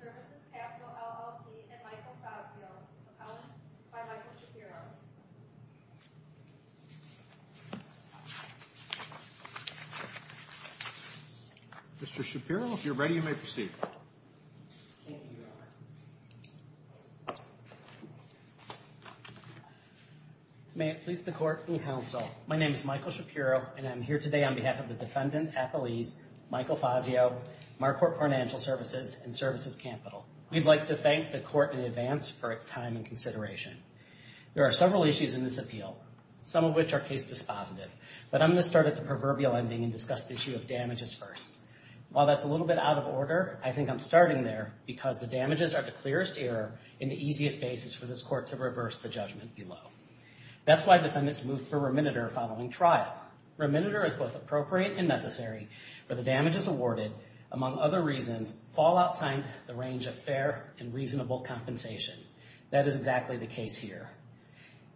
Services Capital, LLC, and Michael Fazio, accountants, by Michael Shapiro. Mr. Shapiro, if you're ready, you may proceed. Thank you, Your Honor. May it please the court and counsel, my name is Michael Shapiro, and I'm here today on behalf of the defendant, appellees, Michael Fazio, Marcorp Financial Services, and Services Capital. We'd like to thank the court in advance for its time and consideration. There are several issues in this appeal, some of which are case dispositive, but I'm going to start at the proverbial ending and discuss the issue of damages first. While that's a little bit out of order, I think I'm starting there because the damages are the clearest error and the easiest basis for this court to reverse the judgment below. That's why defendants move for remediator following trial. Remediator is both appropriate and necessary for the damages awarded, among other reasons, fall outside the range of fair and reasonable compensation. That is exactly the case here.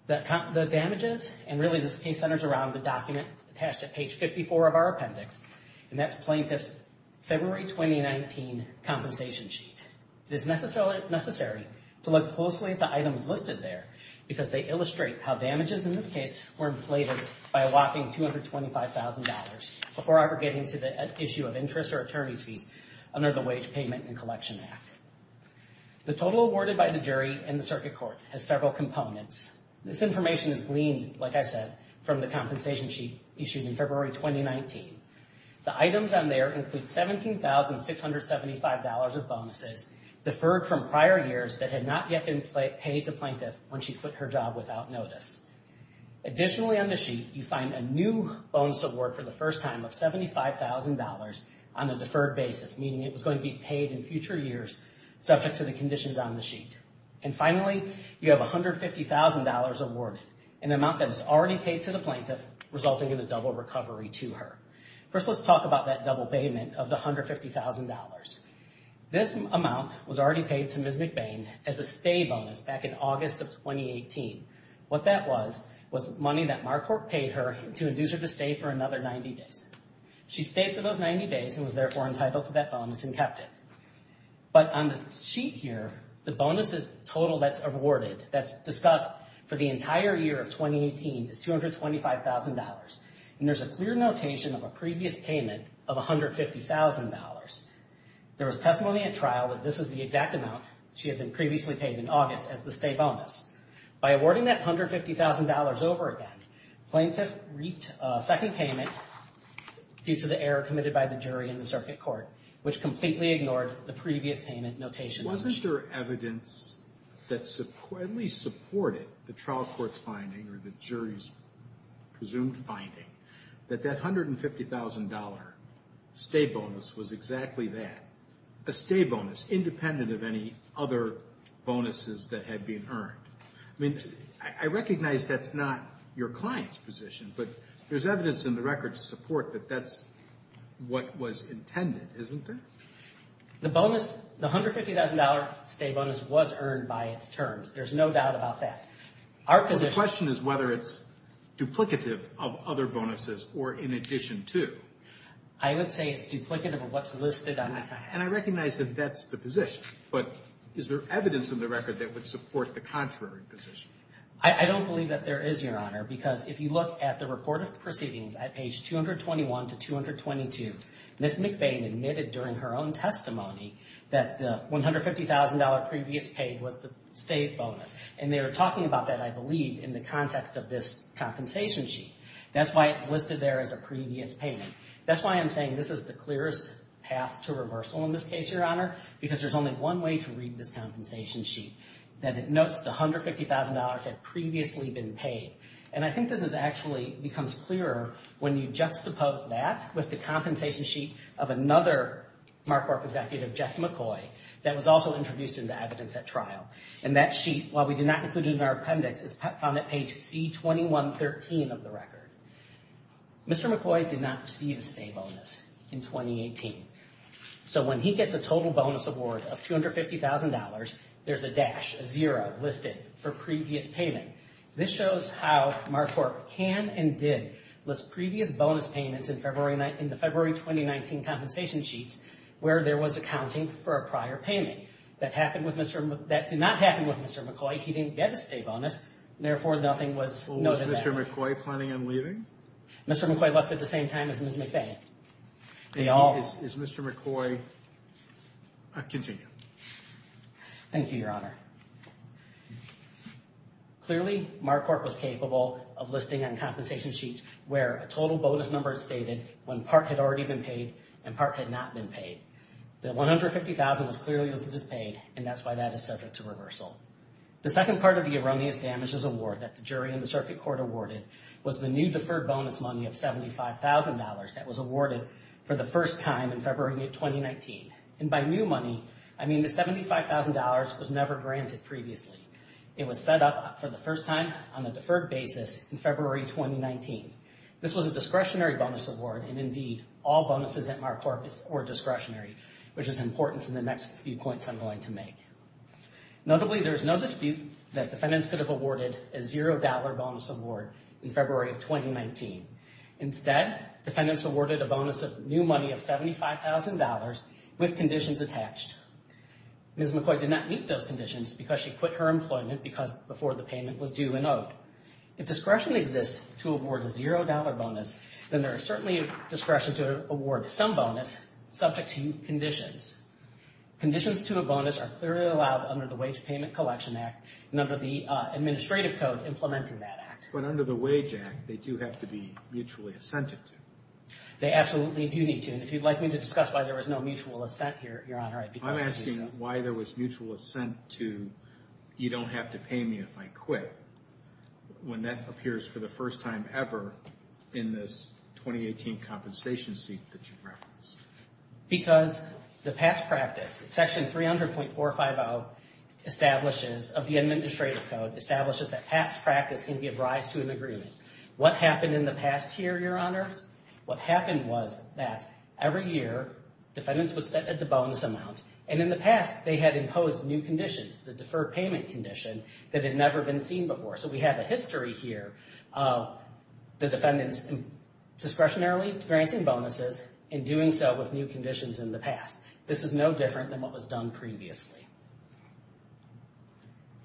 The damages, and really this case centers around the document attached at page 54 of our appendix, and that's plaintiff's February 2019 compensation sheet. It is necessary to look closely at the items listed there because they illustrate how damages in this case were inflated by a whopping $225,000 before ever getting to the issue of interest or attorney's fees under the Wage Payment and Collection Act. The total awarded by the jury in the circuit court has several components. This information is gleaned, like I said, from the compensation sheet issued in February 2019. The items on there include $17,675 of bonuses deferred from prior years that had not yet been paid to plaintiff when she quit her job without notice. Additionally on the sheet, you find a new bonus award for the first time of $75,000 on a deferred basis, meaning it was going to be paid in future years subject to the conditions on the sheet. And finally, you have $150,000 awarded, an amount that was already paid to the plaintiff, resulting in a double recovery to her. First, let's talk about that double payment of the $150,000. This amount was already paid to Ms. McBain as a stay bonus back in August of 2018. What that was was money that Marquardt paid her to induce her to stay for another 90 days. She stayed for those 90 days and was therefore entitled to that bonus and kept it. But on the sheet here, the bonuses total that's awarded, that's discussed for the entire year of 2018, is $225,000. And there's a clear notation of a previous payment of $150,000. There was testimony at trial that this is the exact amount she had been previously paid in August as the stay bonus. By awarding that $150,000 over again, plaintiff reaped a second payment due to the error committed by the jury in the circuit court, which completely ignored the previous payment notation. Wasn't there evidence that at least supported the trial court's finding or the jury's presumed finding that that $150,000 stay bonus was exactly that? A stay bonus independent of any other bonuses that had been earned. I mean, I recognize that's not your client's position, but there's evidence in the record to support that that's what was intended, isn't there? The bonus, the $150,000 stay bonus was earned by its terms. There's no doubt about that. The question is whether it's duplicative of other bonuses or in addition to. I would say it's duplicative of what's listed on the client. And I recognize that that's the position, but is there evidence in the record that would support the contrary position? I don't believe that there is, Your Honor, because if you look at the report of proceedings at page 221 to 222, Ms. McBain admitted during her own testimony that the $150,000 previous paid was the stay bonus. And they were talking about that, I believe, in the context of this compensation sheet. That's why it's listed there as a previous payment. That's why I'm saying this is the clearest path to reversal in this case, Your Honor, because there's only one way to read this compensation sheet. That it notes the $150,000 had previously been paid. And I think this actually becomes clearer when you juxtapose that with the compensation sheet of another Marquardt executive, Jeff McCoy, that was also introduced into evidence at trial. And that sheet, while we did not include it in our appendix, is found at page C2113 of the record. Mr. McCoy did not receive a stay bonus in 2018. So when he gets a total bonus award of $250,000, there's a dash, a zero, listed for previous payment. This shows how Marquardt can and did list previous bonus payments in the February 2019 compensation sheet where there was accounting for a prior payment. That did not happen with Mr. McCoy. He didn't get a stay bonus. Therefore, nothing was noted there. Was Mr. McCoy planning on leaving? Mr. McCoy left at the same time as Ms. McBain. Is Mr. McCoy continuing? Thank you, Your Honor. Clearly, Marquardt was capable of listing on compensation sheets where a total bonus number is stated when part had already been paid and part had not been paid. The $150,000 was clearly listed as paid, and that's why that is subject to reversal. The second part of the erroneous damages award that the jury and the circuit court awarded was the new deferred bonus money of $75,000 that was awarded for the first time in February 2019. And by new money, I mean the $75,000 was never granted previously. It was set up for the first time on a deferred basis in February 2019. This was a discretionary bonus award, and indeed, all bonuses at Marquardt were discretionary, which is important to the next few points I'm going to make. Notably, there is no dispute that defendants could have awarded a $0 bonus award in February of 2019. Instead, defendants awarded a bonus of new money of $75,000 with conditions attached. Ms. McCoy did not meet those conditions because she quit her employment before the payment was due and owed. If discretion exists to award a $0 bonus, then there is certainly discretion to award some bonus subject to conditions. Conditions to a bonus are clearly allowed under the Wage Payment Collection Act and under the administrative code implementing that act. But under the Wage Act, they do have to be mutually assented to. They absolutely do need to. And if you'd like me to discuss why there was no mutual assent here, Your Honor, I'd be glad to do so. I'm asking why there was mutual assent to, you don't have to pay me if I quit, when that appears for the first time ever in this 2018 compensation seat that you referenced. Because the past practice, Section 300.450 of the administrative code establishes that past practice can give rise to an agreement. What happened in the past here, Your Honors? What happened was that every year defendants would set a bonus amount. And in the past, they had imposed new conditions, the deferred payment condition, that had never been seen before. So we have a history here of the defendants discretionarily granting bonuses and doing so with new conditions in the past. This is no different than what was done previously.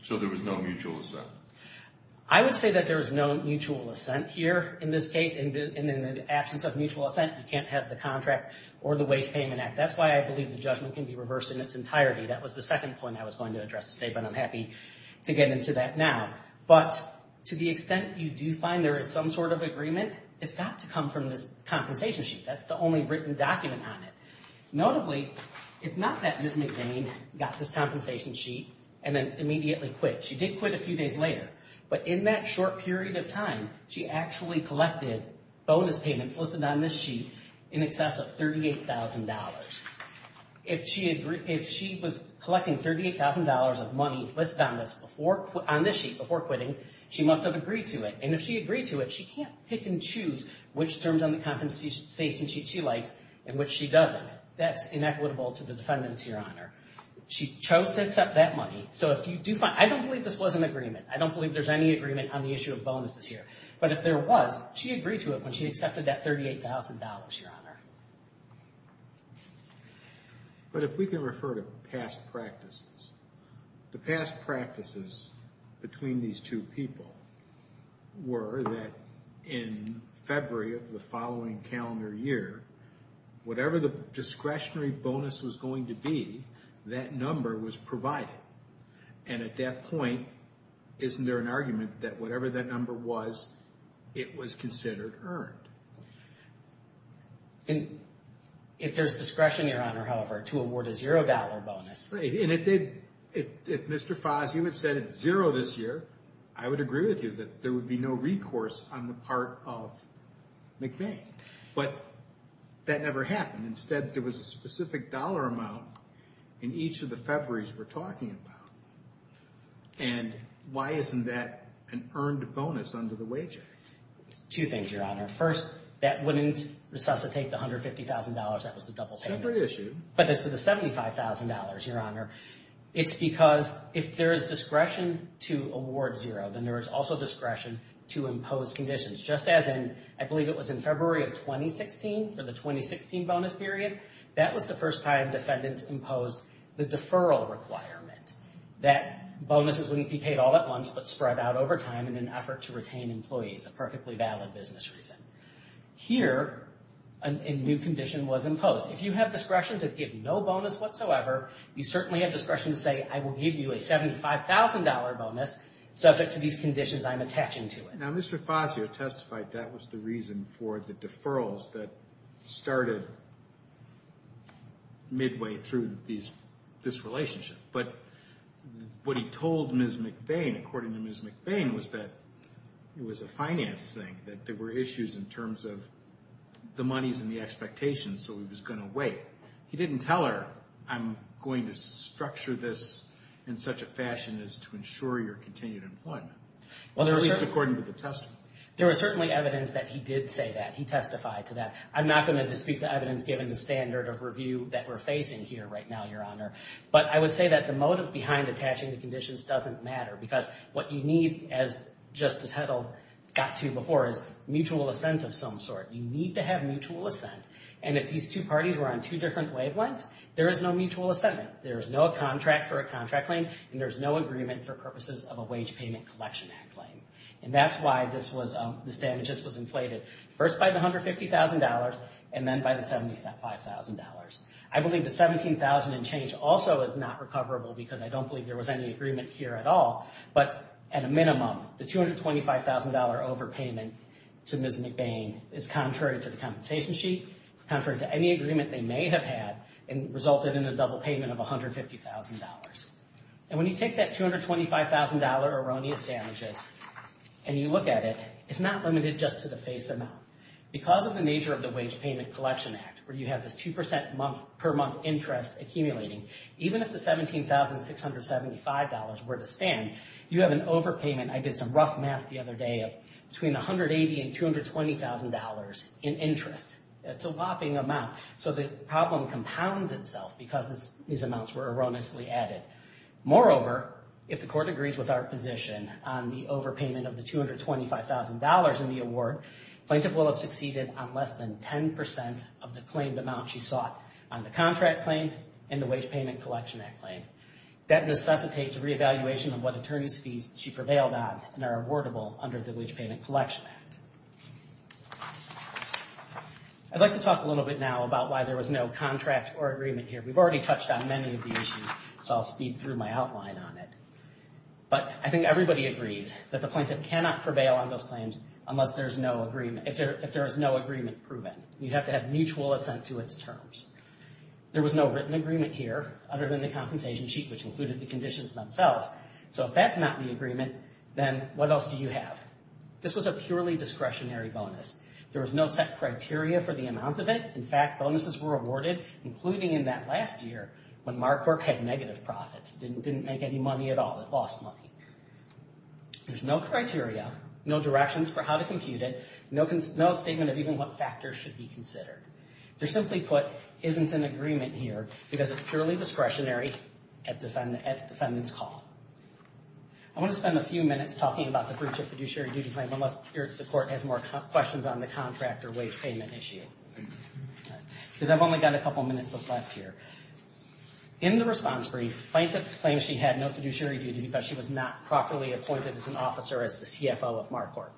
So there was no mutual assent? I would say that there was no mutual assent here in this case. And in the absence of mutual assent, you can't have the contract or the Wage Payment Act. That's why I believe the judgment can be reversed in its entirety. That was the second point I was going to address today, but I'm happy to get into that now. But to the extent you do find there is some sort of agreement, it's got to come from this compensation sheet. That's the only written document on it. Notably, it's not that Ms. McVean got this compensation sheet and then immediately quit. She did quit a few days later, but in that short period of time, she actually collected bonus payments listed on this sheet in excess of $38,000. If she was collecting $38,000 of money listed on this sheet before quitting, she must have agreed to it. And if she agreed to it, she can't pick and choose which terms on the compensation sheet she likes and which she doesn't. That's inequitable to the defendants, Your Honor. She chose to accept that money. I don't believe this was an agreement. I don't believe there's any agreement on the issue of bonuses here. But if there was, she agreed to it when she accepted that $38,000, Your Honor. But if we can refer to past practices, the past practices between these two people were that in February of the following calendar year, whatever the discretionary bonus was going to be, that number was provided. And at that point, isn't there an argument that whatever that number was, it was considered earned? If there's discretion, Your Honor, however, to award a $0 bonus. And if Mr. Foss, you had said it's $0 this year, I would agree with you that there would be no recourse on the part of McVeigh. But that never happened. Instead, there was a specific dollar amount in each of the Februaries we're talking about. And why isn't that an earned bonus under the Wage Act? Two things, Your Honor. First, that wouldn't resuscitate the $150,000. That was the double payment. Separate issue. But as to the $75,000, Your Honor, it's because if there is discretion to award $0, then there is also discretion to impose conditions. Just as in, I believe it was in February of 2016 for the 2016 bonus period, that was the first time defendants imposed the deferral requirement. That bonuses wouldn't be paid all at once, but spread out over time in an effort to retain employees, a perfectly valid business reason. Here, a new condition was imposed. If you have discretion to give no bonus whatsoever, you certainly have discretion to say, I will give you a $75,000 bonus subject to these conditions I'm attaching to it. Now, Mr. Fazio testified that was the reason for the deferrals that started midway through this relationship. But what he told Ms. McVeigh, according to Ms. McVeigh, was that it was a finance thing, that there were issues in terms of the monies and the expectations, so he was going to wait. He didn't tell her, I'm going to structure this in such a fashion as to ensure your continued employment. At least according to the testimony. There was certainly evidence that he did say that. He testified to that. I'm not going to speak to evidence given the standard of review that we're facing here right now, Your Honor. But I would say that the motive behind attaching the conditions doesn't matter, because what you need, just as Hedl got to before, is mutual assent of some sort. You need to have mutual assent. And if these two parties were on two different wavelengths, there is no mutual assent. There is no contract for a contract claim, and there is no agreement for purposes of a wage payment collection act claim. And that's why this damages was inflated, first by the $150,000, and then by the $75,000. I believe the $17,000 change also is not recoverable, because I don't believe there was any agreement here at all. But at a minimum, the $225,000 overpayment to Ms. McVeigh is contrary to the compensation sheet, contrary to any agreement they may have had, and resulted in a double payment of $150,000. And when you take that $225,000 erroneous damages, and you look at it, it's not limited just to the face amount. Because of the nature of the wage payment collection act, where you have this 2% per month interest accumulating, even if the $17,675 were to stand, you have an overpayment. I did some rough math the other day, of between $180,000 and $220,000 in interest. That's a whopping amount. So the problem compounds itself, because these amounts were erroneously added. Moreover, if the court agrees with our position on the overpayment of the $225,000 in the award, plaintiff will have succeeded on less than 10% of the claimed amount she sought on the contract claim and the wage payment collection act claim. That necessitates a reevaluation of what attorney's fees she prevailed on and are awardable under the wage payment collection act. I'd like to talk a little bit now about why there was no contract or agreement here. We've already touched on many of the issues, so I'll speed through my outline on it. But I think everybody agrees that the plaintiff cannot prevail on those claims unless there's no agreement, if there is no agreement proven. You have to have mutual assent to its terms. There was no written agreement here other than the compensation sheet, which included the conditions themselves. So if that's not the agreement, then what else do you have? This was a purely discretionary bonus. There was no set criteria for the amount of it. In fact, bonuses were awarded, including in that last year, when Mark Corp had negative profits. It didn't make any money at all. It lost money. There's no criteria, no directions for how to compute it, no statement of even what factors should be considered. To simply put, there isn't an agreement here because it's purely discretionary at the defendant's call. I want to spend a few minutes talking about the breach of fiduciary duty claim unless the court has more questions on the contract or wage payment issue. Because I've only got a couple minutes left here. In the response brief, the plaintiff claims she had no fiduciary duty because she was not properly appointed as an officer as the CFO of Mark Corp.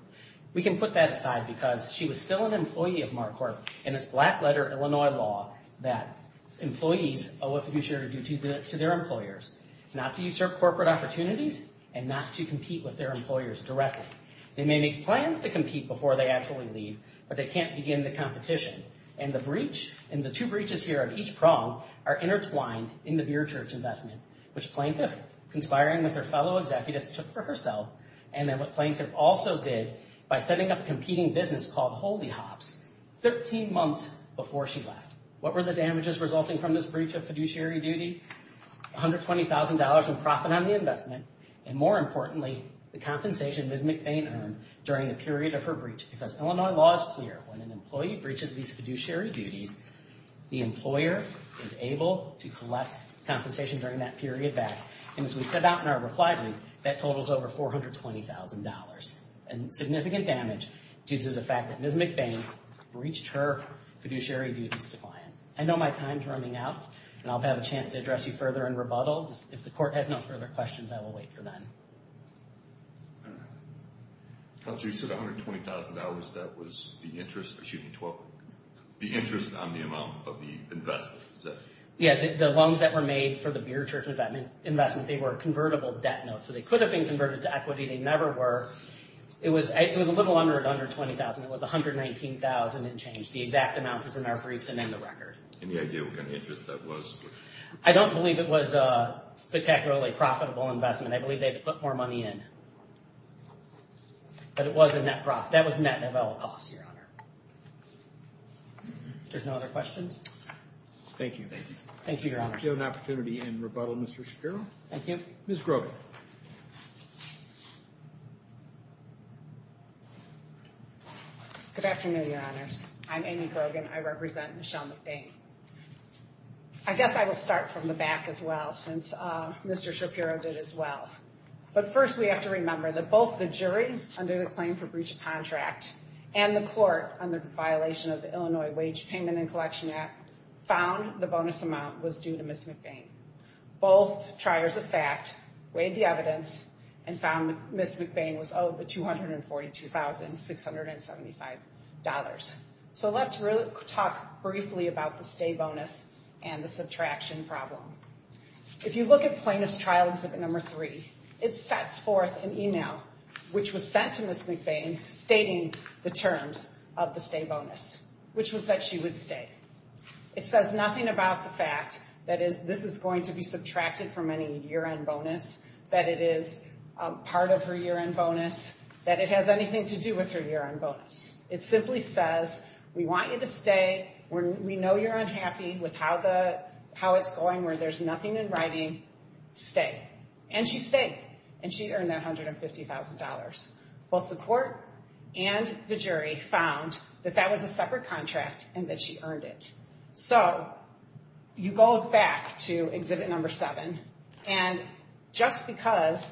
We can put that aside because she was still an employee of Mark Corp and it's black-letter Illinois law that employees owe a fiduciary duty to their employers, not to usurp corporate opportunities and not to compete with their employers directly. They may make plans to compete before they actually leave, but they can't begin the competition. And the two breaches here of each prong are intertwined in the beer church investment, which plaintiff, conspiring with her fellow executives, took for herself. And then what plaintiff also did, by setting up a competing business called Holy Hops, 13 months before she left. What were the damages resulting from this breach of fiduciary duty? $120,000 in profit on the investment, and more importantly, the compensation Ms. McBain earned during the period of her breach. Because Illinois law is clear, when an employee breaches these fiduciary duties, the employer is able to collect compensation during that period back. And as we set out in our reply brief, that totals over $420,000. And significant damage due to the fact that Ms. McBain breached her fiduciary duties to client. I know my time's running out, and I'll have a chance to address you further in rebuttal. If the court has no further questions, I will wait for then. Counsel, you said $120,000, that was the interest, excuse me, the interest on the amount of the investment. Yeah, the loans that were made for the beer church investment, they were convertible debt notes. So they could have been converted to equity. They never were. It was a little under $20,000. It was $119,000 and change. The exact amount is in our briefs and in the record. Any idea what kind of interest that was? I don't believe it was a spectacularly profitable investment. I believe they had to put more money in. But it was a net profit. That was net development cost, Your Honor. If there's no other questions. Thank you. Thank you, Your Honor. We'll give an opportunity in rebuttal, Mr. Shapiro. Thank you. Ms. Grogan. Good afternoon, Your Honors. I'm Amy Grogan. I represent Michelle McBain. I guess I will start from the back as well, since Mr. Shapiro did as well. But first we have to remember that both the jury, under the claim for breach of contract, and the court under the violation of the Illinois Wage Payment and Collection Act, found the bonus amount was due to Ms. McBain. Both triers of fact weighed the evidence and found Ms. McBain was owed the $242,675. So let's talk briefly about the stay bonus and the subtraction problem. If you look at Plaintiff's Trial Exhibit No. 3, it sets forth an email which was sent to Ms. McBain stating the terms of the stay bonus, which was that she would stay. It says nothing about the fact that this is going to be subtracted from any year-end bonus, that it is part of her year-end bonus, that it has anything to do with her year-end bonus. It simply says, we want you to stay. We know you're unhappy with how it's going, where there's nothing in writing. Stay. And she stayed. And she earned that $150,000. Both the court and the jury found that that was a separate contract and that she earned it. So you go back to Exhibit No. 7, and just because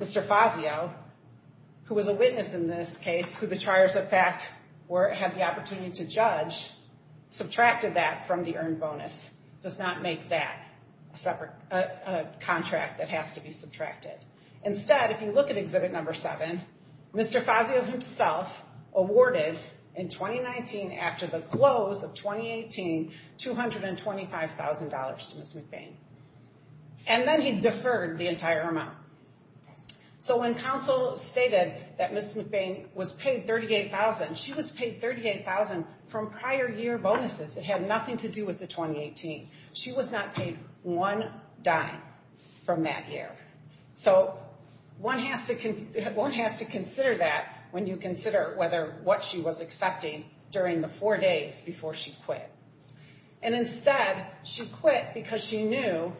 Mr. Fazio, who was a witness in this case, who the triers of fact had the opportunity to judge, subtracted that from the earned bonus, does not make that a contract that has to be subtracted. Instead, if you look at Exhibit No. 7, Mr. Fazio himself awarded, in 2019, after the close of 2018, $225,000 to Ms. McBain. And then he deferred the entire amount. So when counsel stated that Ms. McBain was paid $38,000, she was paid $38,000 from prior year bonuses. It had nothing to do with the 2018. She was not paid one dime from that year. So one has to consider that when you consider what she was accepting during the four days before she quit. And instead, she quit because she knew,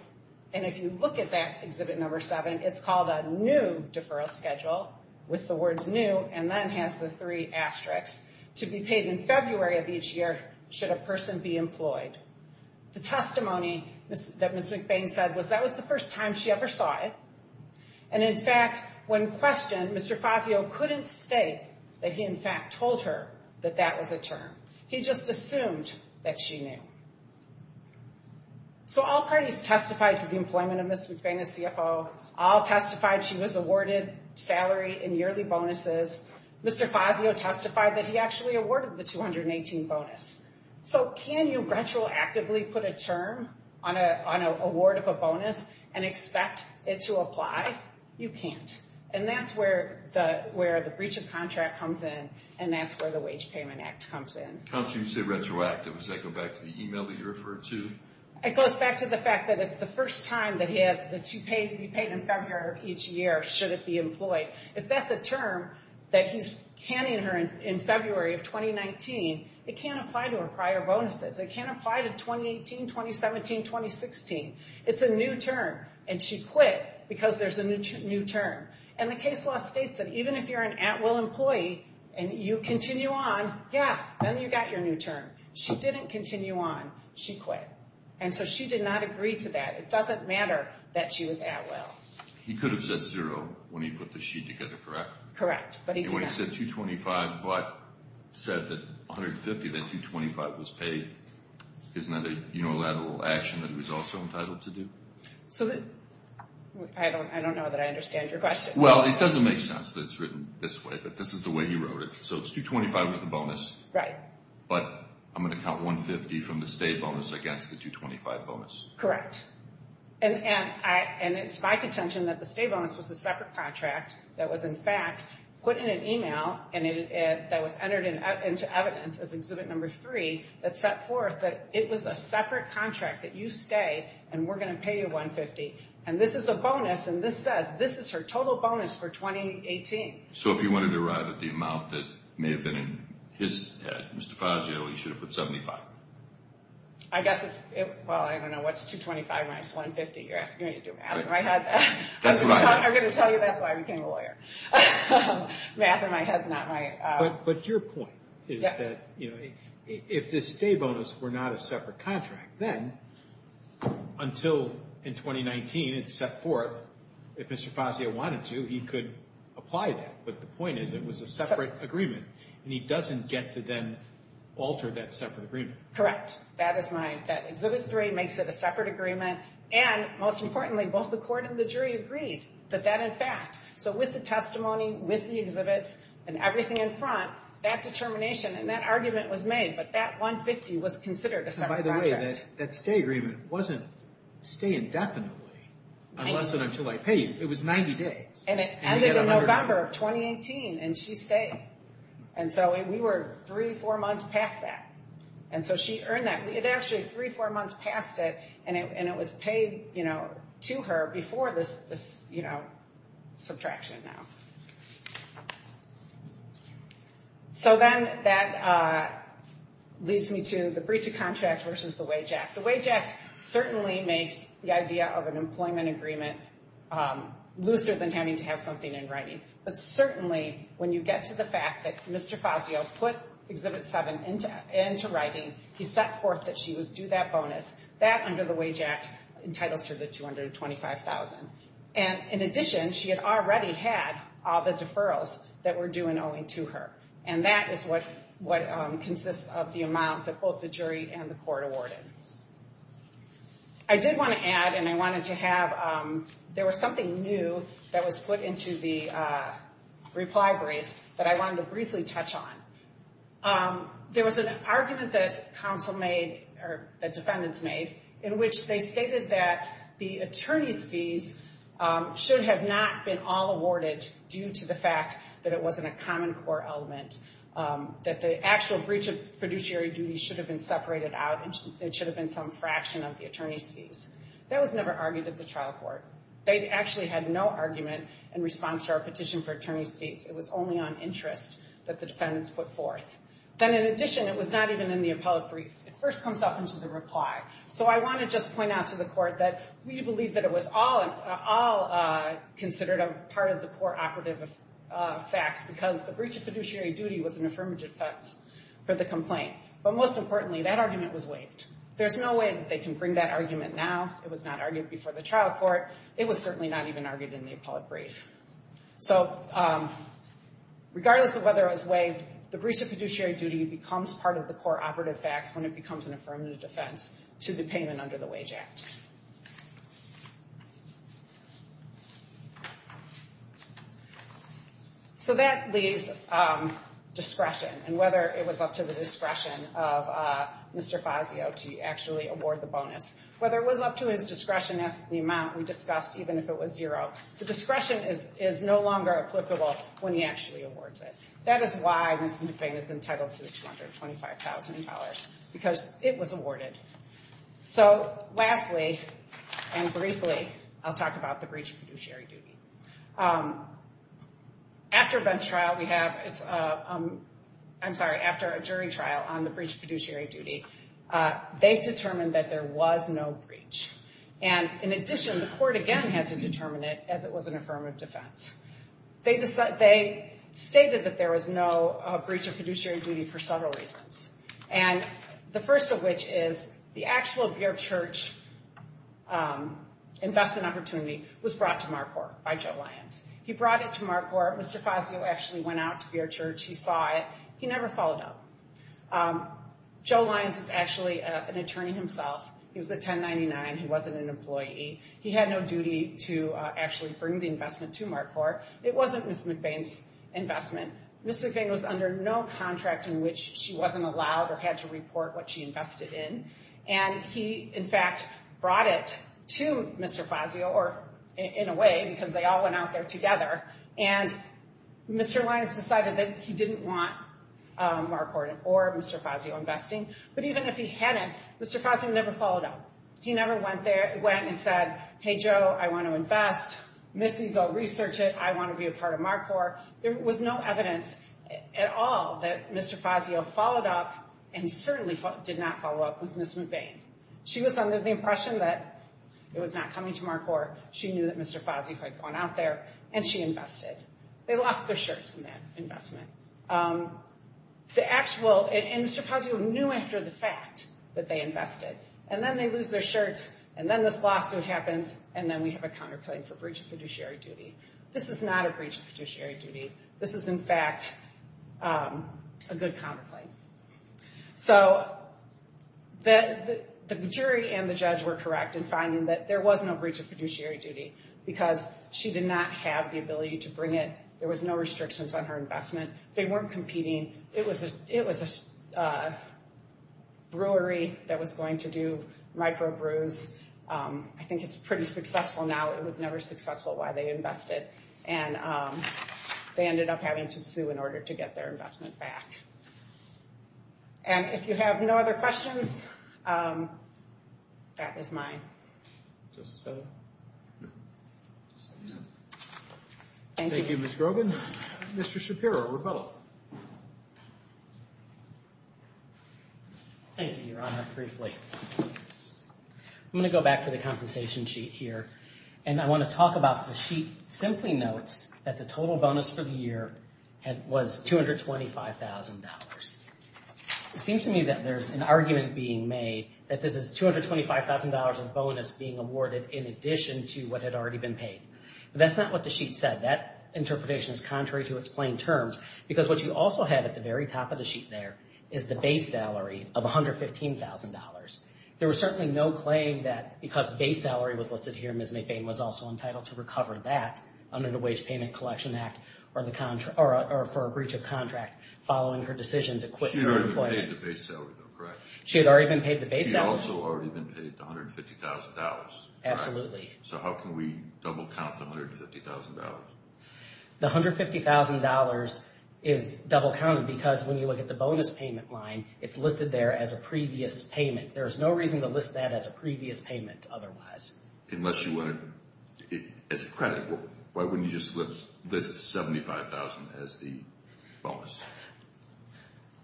and if you look at that Exhibit No. 7, it's called a new deferral schedule, with the words new, and then has the three asterisks, to be paid in February of each year should a person be employed. The testimony that Ms. McBain said was that was the first time she ever saw it. And in fact, when questioned, Mr. Fazio couldn't state that he in fact told her that that was a term. He just assumed that she knew. So all parties testified to the employment of Ms. McBain as CFO. All testified she was awarded salary and yearly bonuses. Mr. Fazio testified that he actually awarded the 2018 bonus. So can you retroactively put a term on an award of a bonus and expect it to apply? You can't. And that's where the breach of contract comes in, and that's where the Wage Payment Act comes in. How can you say retroactive? Does that go back to the email that you referred to? It goes back to the fact that it's the first time that he asked that she be paid in February of each year should it be employed. If that's a term that he's handing her in February of 2019, it can't apply to her prior bonuses. It can't apply to 2018, 2017, 2016. It's a new term, and she quit because there's a new term. And the case law states that even if you're an at-will employee and you continue on, yeah, then you got your new term. She didn't continue on. She quit. And so she did not agree to that. It doesn't matter that she was at-will. He could have said zero when he put the she together, correct? Correct, but he did not. If he said $225 but said that $150, then $225 was paid, isn't that a unilateral action that he was also entitled to do? I don't know that I understand your question. Well, it doesn't make sense that it's written this way, but this is the way he wrote it. So it's $225 was the bonus, but I'm going to count $150 from the stay bonus against the $225 bonus. Correct. And it's my contention that the stay bonus was a separate contract that was, in fact, put in an email that was entered into evidence as Exhibit Number 3 that set forth that it was a separate contract, that you stay and we're going to pay you $150. And this is a bonus, and this says this is her total bonus for 2018. So if he wanted to arrive at the amount that may have been in his head, Mr. Fazio, he should have put $75. I guess if it – well, I don't know, what's $225 minus $150? You're asking me to do math in my head. I'm going to tell you that's why I became a lawyer. Math in my head is not my – But your point is that if the stay bonus were not a separate contract, then until in 2019 it's set forth, if Mr. Fazio wanted to, he could apply that. But the point is it was a separate agreement, and he doesn't get to then alter that separate agreement. Correct. That Exhibit 3 makes it a separate agreement, and most importantly, both the court and the jury agreed that that, in fact – so with the testimony, with the exhibits, and everything in front, that determination and that argument was made, but that $150 was considered a separate contract. By the way, that stay agreement wasn't stay indefinitely, unless and until I paid. It was 90 days. And it ended in November of 2018, and she stayed. And so we were three, four months past that. And so she earned that. It actually three, four months past it, and it was paid to her before this subtraction now. So then that leads me to the breach of contract versus the wage act. The wage act certainly makes the idea of an employment agreement looser than having to have something in writing. But certainly when you get to the fact that Mr. Fazio put Exhibit 7 into writing, he set forth that she was due that bonus, that under the wage act entitles her to $225,000. And in addition, she had already had all the deferrals that were due and owing to her. And that is what consists of the amount that both the jury and the court awarded. I did want to add, and I wanted to have – there was something new that was put into the reply brief that I wanted to briefly touch on. There was an argument that counsel made, or that defendants made, in which they stated that the attorney's fees should have not been all awarded due to the fact that it wasn't a common core element, that the actual breach of fiduciary duties should have been separated out and it should have been some fraction of the attorney's fees. That was never argued at the trial court. They actually had no argument in response to our petition for attorney's fees. It was only on interest that the defendants put forth. Then in addition, it was not even in the appellate brief. It first comes up into the reply. So I want to just point out to the court that we believe that it was all considered a part of the core operative facts because the breach of fiduciary duty was an affirmative defense for the complaint. But most importantly, that argument was waived. There's no way that they can bring that argument now. It was not argued before the trial court. It was certainly not even argued in the appellate brief. So regardless of whether it was waived, the breach of fiduciary duty becomes part of the core operative facts when it becomes an affirmative defense to the payment under the Wage Act. So that leaves discretion and whether it was up to the discretion of Mr. Fazio to actually award the bonus. Whether it was up to his discretion as to the amount, we discussed even if it was zero. The discretion is no longer applicable when he actually awards it. That is why Ms. McVeigh was entitled to the $225,000 because it was awarded. So lastly and briefly, I'll talk about the breach of fiduciary duty. After a jury trial on the breach of fiduciary duty, they determined that there was no breach. And in addition, the court again had to determine it as it was an affirmative defense. They stated that there was no breach of fiduciary duty for several reasons. And the first of which is the actual Beer Church investment opportunity was brought to MarCorp by Joe Lyons. He brought it to MarCorp. Mr. Fazio actually went out to Beer Church. He saw it. He never followed up. Joe Lyons was actually an attorney himself. He was a 1099. He wasn't an employee. He had no duty to actually bring the investment to MarCorp. It wasn't Ms. McVeigh's investment. Ms. McVeigh was under no contract in which she wasn't allowed or had to report what she invested in. And he, in fact, brought it to Mr. Fazio, or in a way, because they all went out there together. And Mr. Lyons decided that he didn't want MarCorp or Mr. Fazio investing. But even if he hadn't, Mr. Fazio never followed up. He never went and said, Hey, Joe, I want to invest. Missy, go research it. I want to be a part of MarCorp. There was no evidence at all that Mr. Fazio followed up and certainly did not follow up with Ms. McVeigh. She was under the impression that it was not coming to MarCorp. She knew that Mr. Fazio had gone out there, and she invested. They lost their shirts in that investment. And Mr. Fazio knew after the fact that they invested. And then they lose their shirts, and then this lawsuit happens, and then we have a counterclaim for breach of fiduciary duty. This is not a breach of fiduciary duty. This is, in fact, a good counterclaim. So the jury and the judge were correct in finding that there was no breach of fiduciary duty because she did not have the ability to bring it. There was no restrictions on her investment. They weren't competing. It was a brewery that was going to do microbrews. I think it's pretty successful now. It was never successful while they invested, and they ended up having to sue in order to get their investment back. And if you have no other questions, that is mine. Just a second. Thank you, Ms. Grogan. Mr. Shapiro, rebuttal. Thank you, Your Honor, briefly. I'm going to go back to the compensation sheet here, and I want to talk about the sheet simply notes that the total bonus for the year was $225,000. It seems to me that there's an argument being made that this is $225,000 of bonus being awarded in addition to what had already been paid. But that's not what the sheet said. That interpretation is contrary to its plain terms because what you also have at the very top of the sheet there is the base salary of $115,000. There was certainly no claim that because base salary was listed here, Ms. McBain was also entitled to recover that under the Wage Payment Collection Act or for a breach of contract following her decision to quit her employment. She had already been paid the base salary, though, correct? She had already been paid the base salary. She had also already been paid the $150,000. Absolutely. So how can we double count the $150,000? The $150,000 is double counted because when you look at the bonus payment line, it's listed there as a previous payment. There's no reason to list that as a previous payment otherwise. Unless you want it as a credit. Why wouldn't you just list $75,000 as the bonus?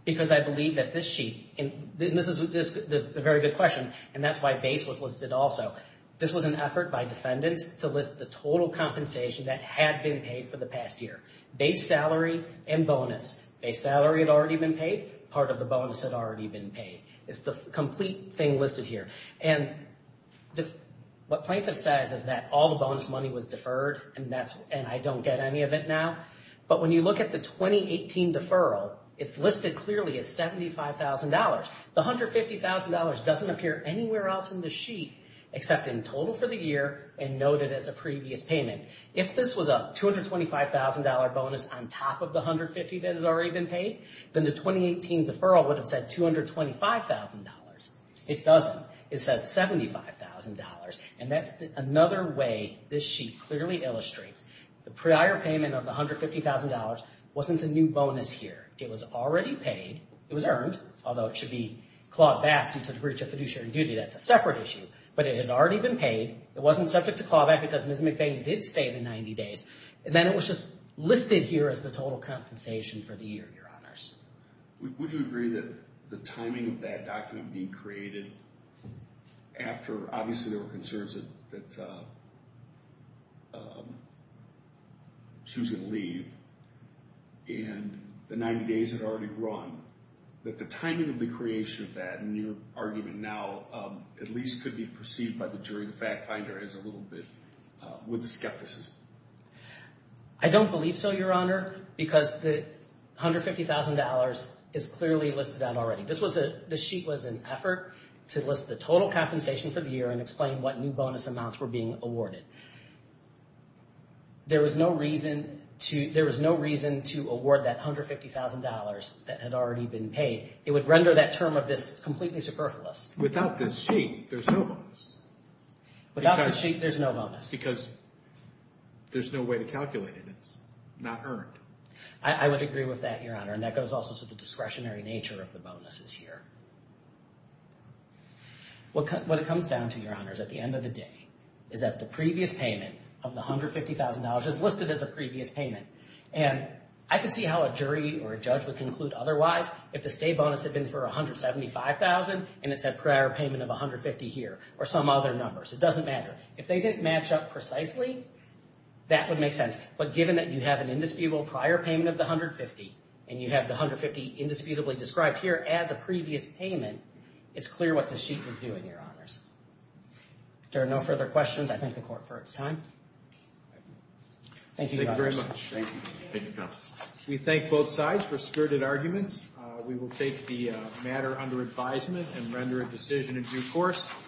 Because I believe that this sheet, and this is a very good question, and that's why base was listed also. This was an effort by defendants to list the total compensation that had been paid for the past year. Base salary and bonus. Base salary had already been paid. Part of the bonus had already been paid. It's the complete thing listed here. And what plaintiff says is that all the bonus money was deferred and I don't get any of it now. But when you look at the 2018 deferral, it's listed clearly as $75,000. The $150,000 doesn't appear anywhere else in the sheet except in total for the year and noted as a previous payment. If this was a $225,000 bonus on top of the $150,000 that had already been paid, then the 2018 deferral would have said $225,000. It doesn't. It says $75,000. And that's another way this sheet clearly illustrates the prior payment of the $150,000 wasn't a new bonus here. It was already paid. It was earned, although it should be clawed back due to breach of fiduciary duty. That's a separate issue. But it had already been paid. It wasn't subject to clawback because Ms. McBain did stay the 90 days. And then it was just listed here as the total compensation for the year, Your Honors. Would you agree that the timing of that document being created after obviously there were concerns that she was going to leave and the 90 days had already run, that the timing of the creation of that in your argument now at least could be perceived by the jury, the fact finder, as a little bit with skepticism? I don't believe so, Your Honor, because the $150,000 is clearly listed on it already. This sheet was an effort to list the total compensation for the year and explain what new bonus amounts were being awarded. There was no reason to award that $150,000 that had already been paid. It would render that term of this completely superfluous. Without this sheet, there's no bonus. Without this sheet, there's no bonus. Because there's no way to calculate it. It's not earned. I would agree with that, Your Honor. That goes also to the discretionary nature of the bonuses here. What it comes down to, Your Honors, at the end of the day is that the previous payment of the $150,000 is listed as a previous payment. I could see how a jury or a judge would conclude otherwise if the stay bonus had been for $175,000 and it said prior payment of $150,000 here or some other numbers. It doesn't matter. If they didn't match up precisely, that would make sense. But given that you have an indisputable prior payment of the $150,000 and you have the $150,000 indisputably described here as a previous payment, it's clear what the sheet was doing, Your Honors. If there are no further questions, I thank the Court for its time. Thank you, Your Honors. Thank you very much. Thank you. We thank both sides for spirited arguments. We will take the matter under advisement and render a decision in due course.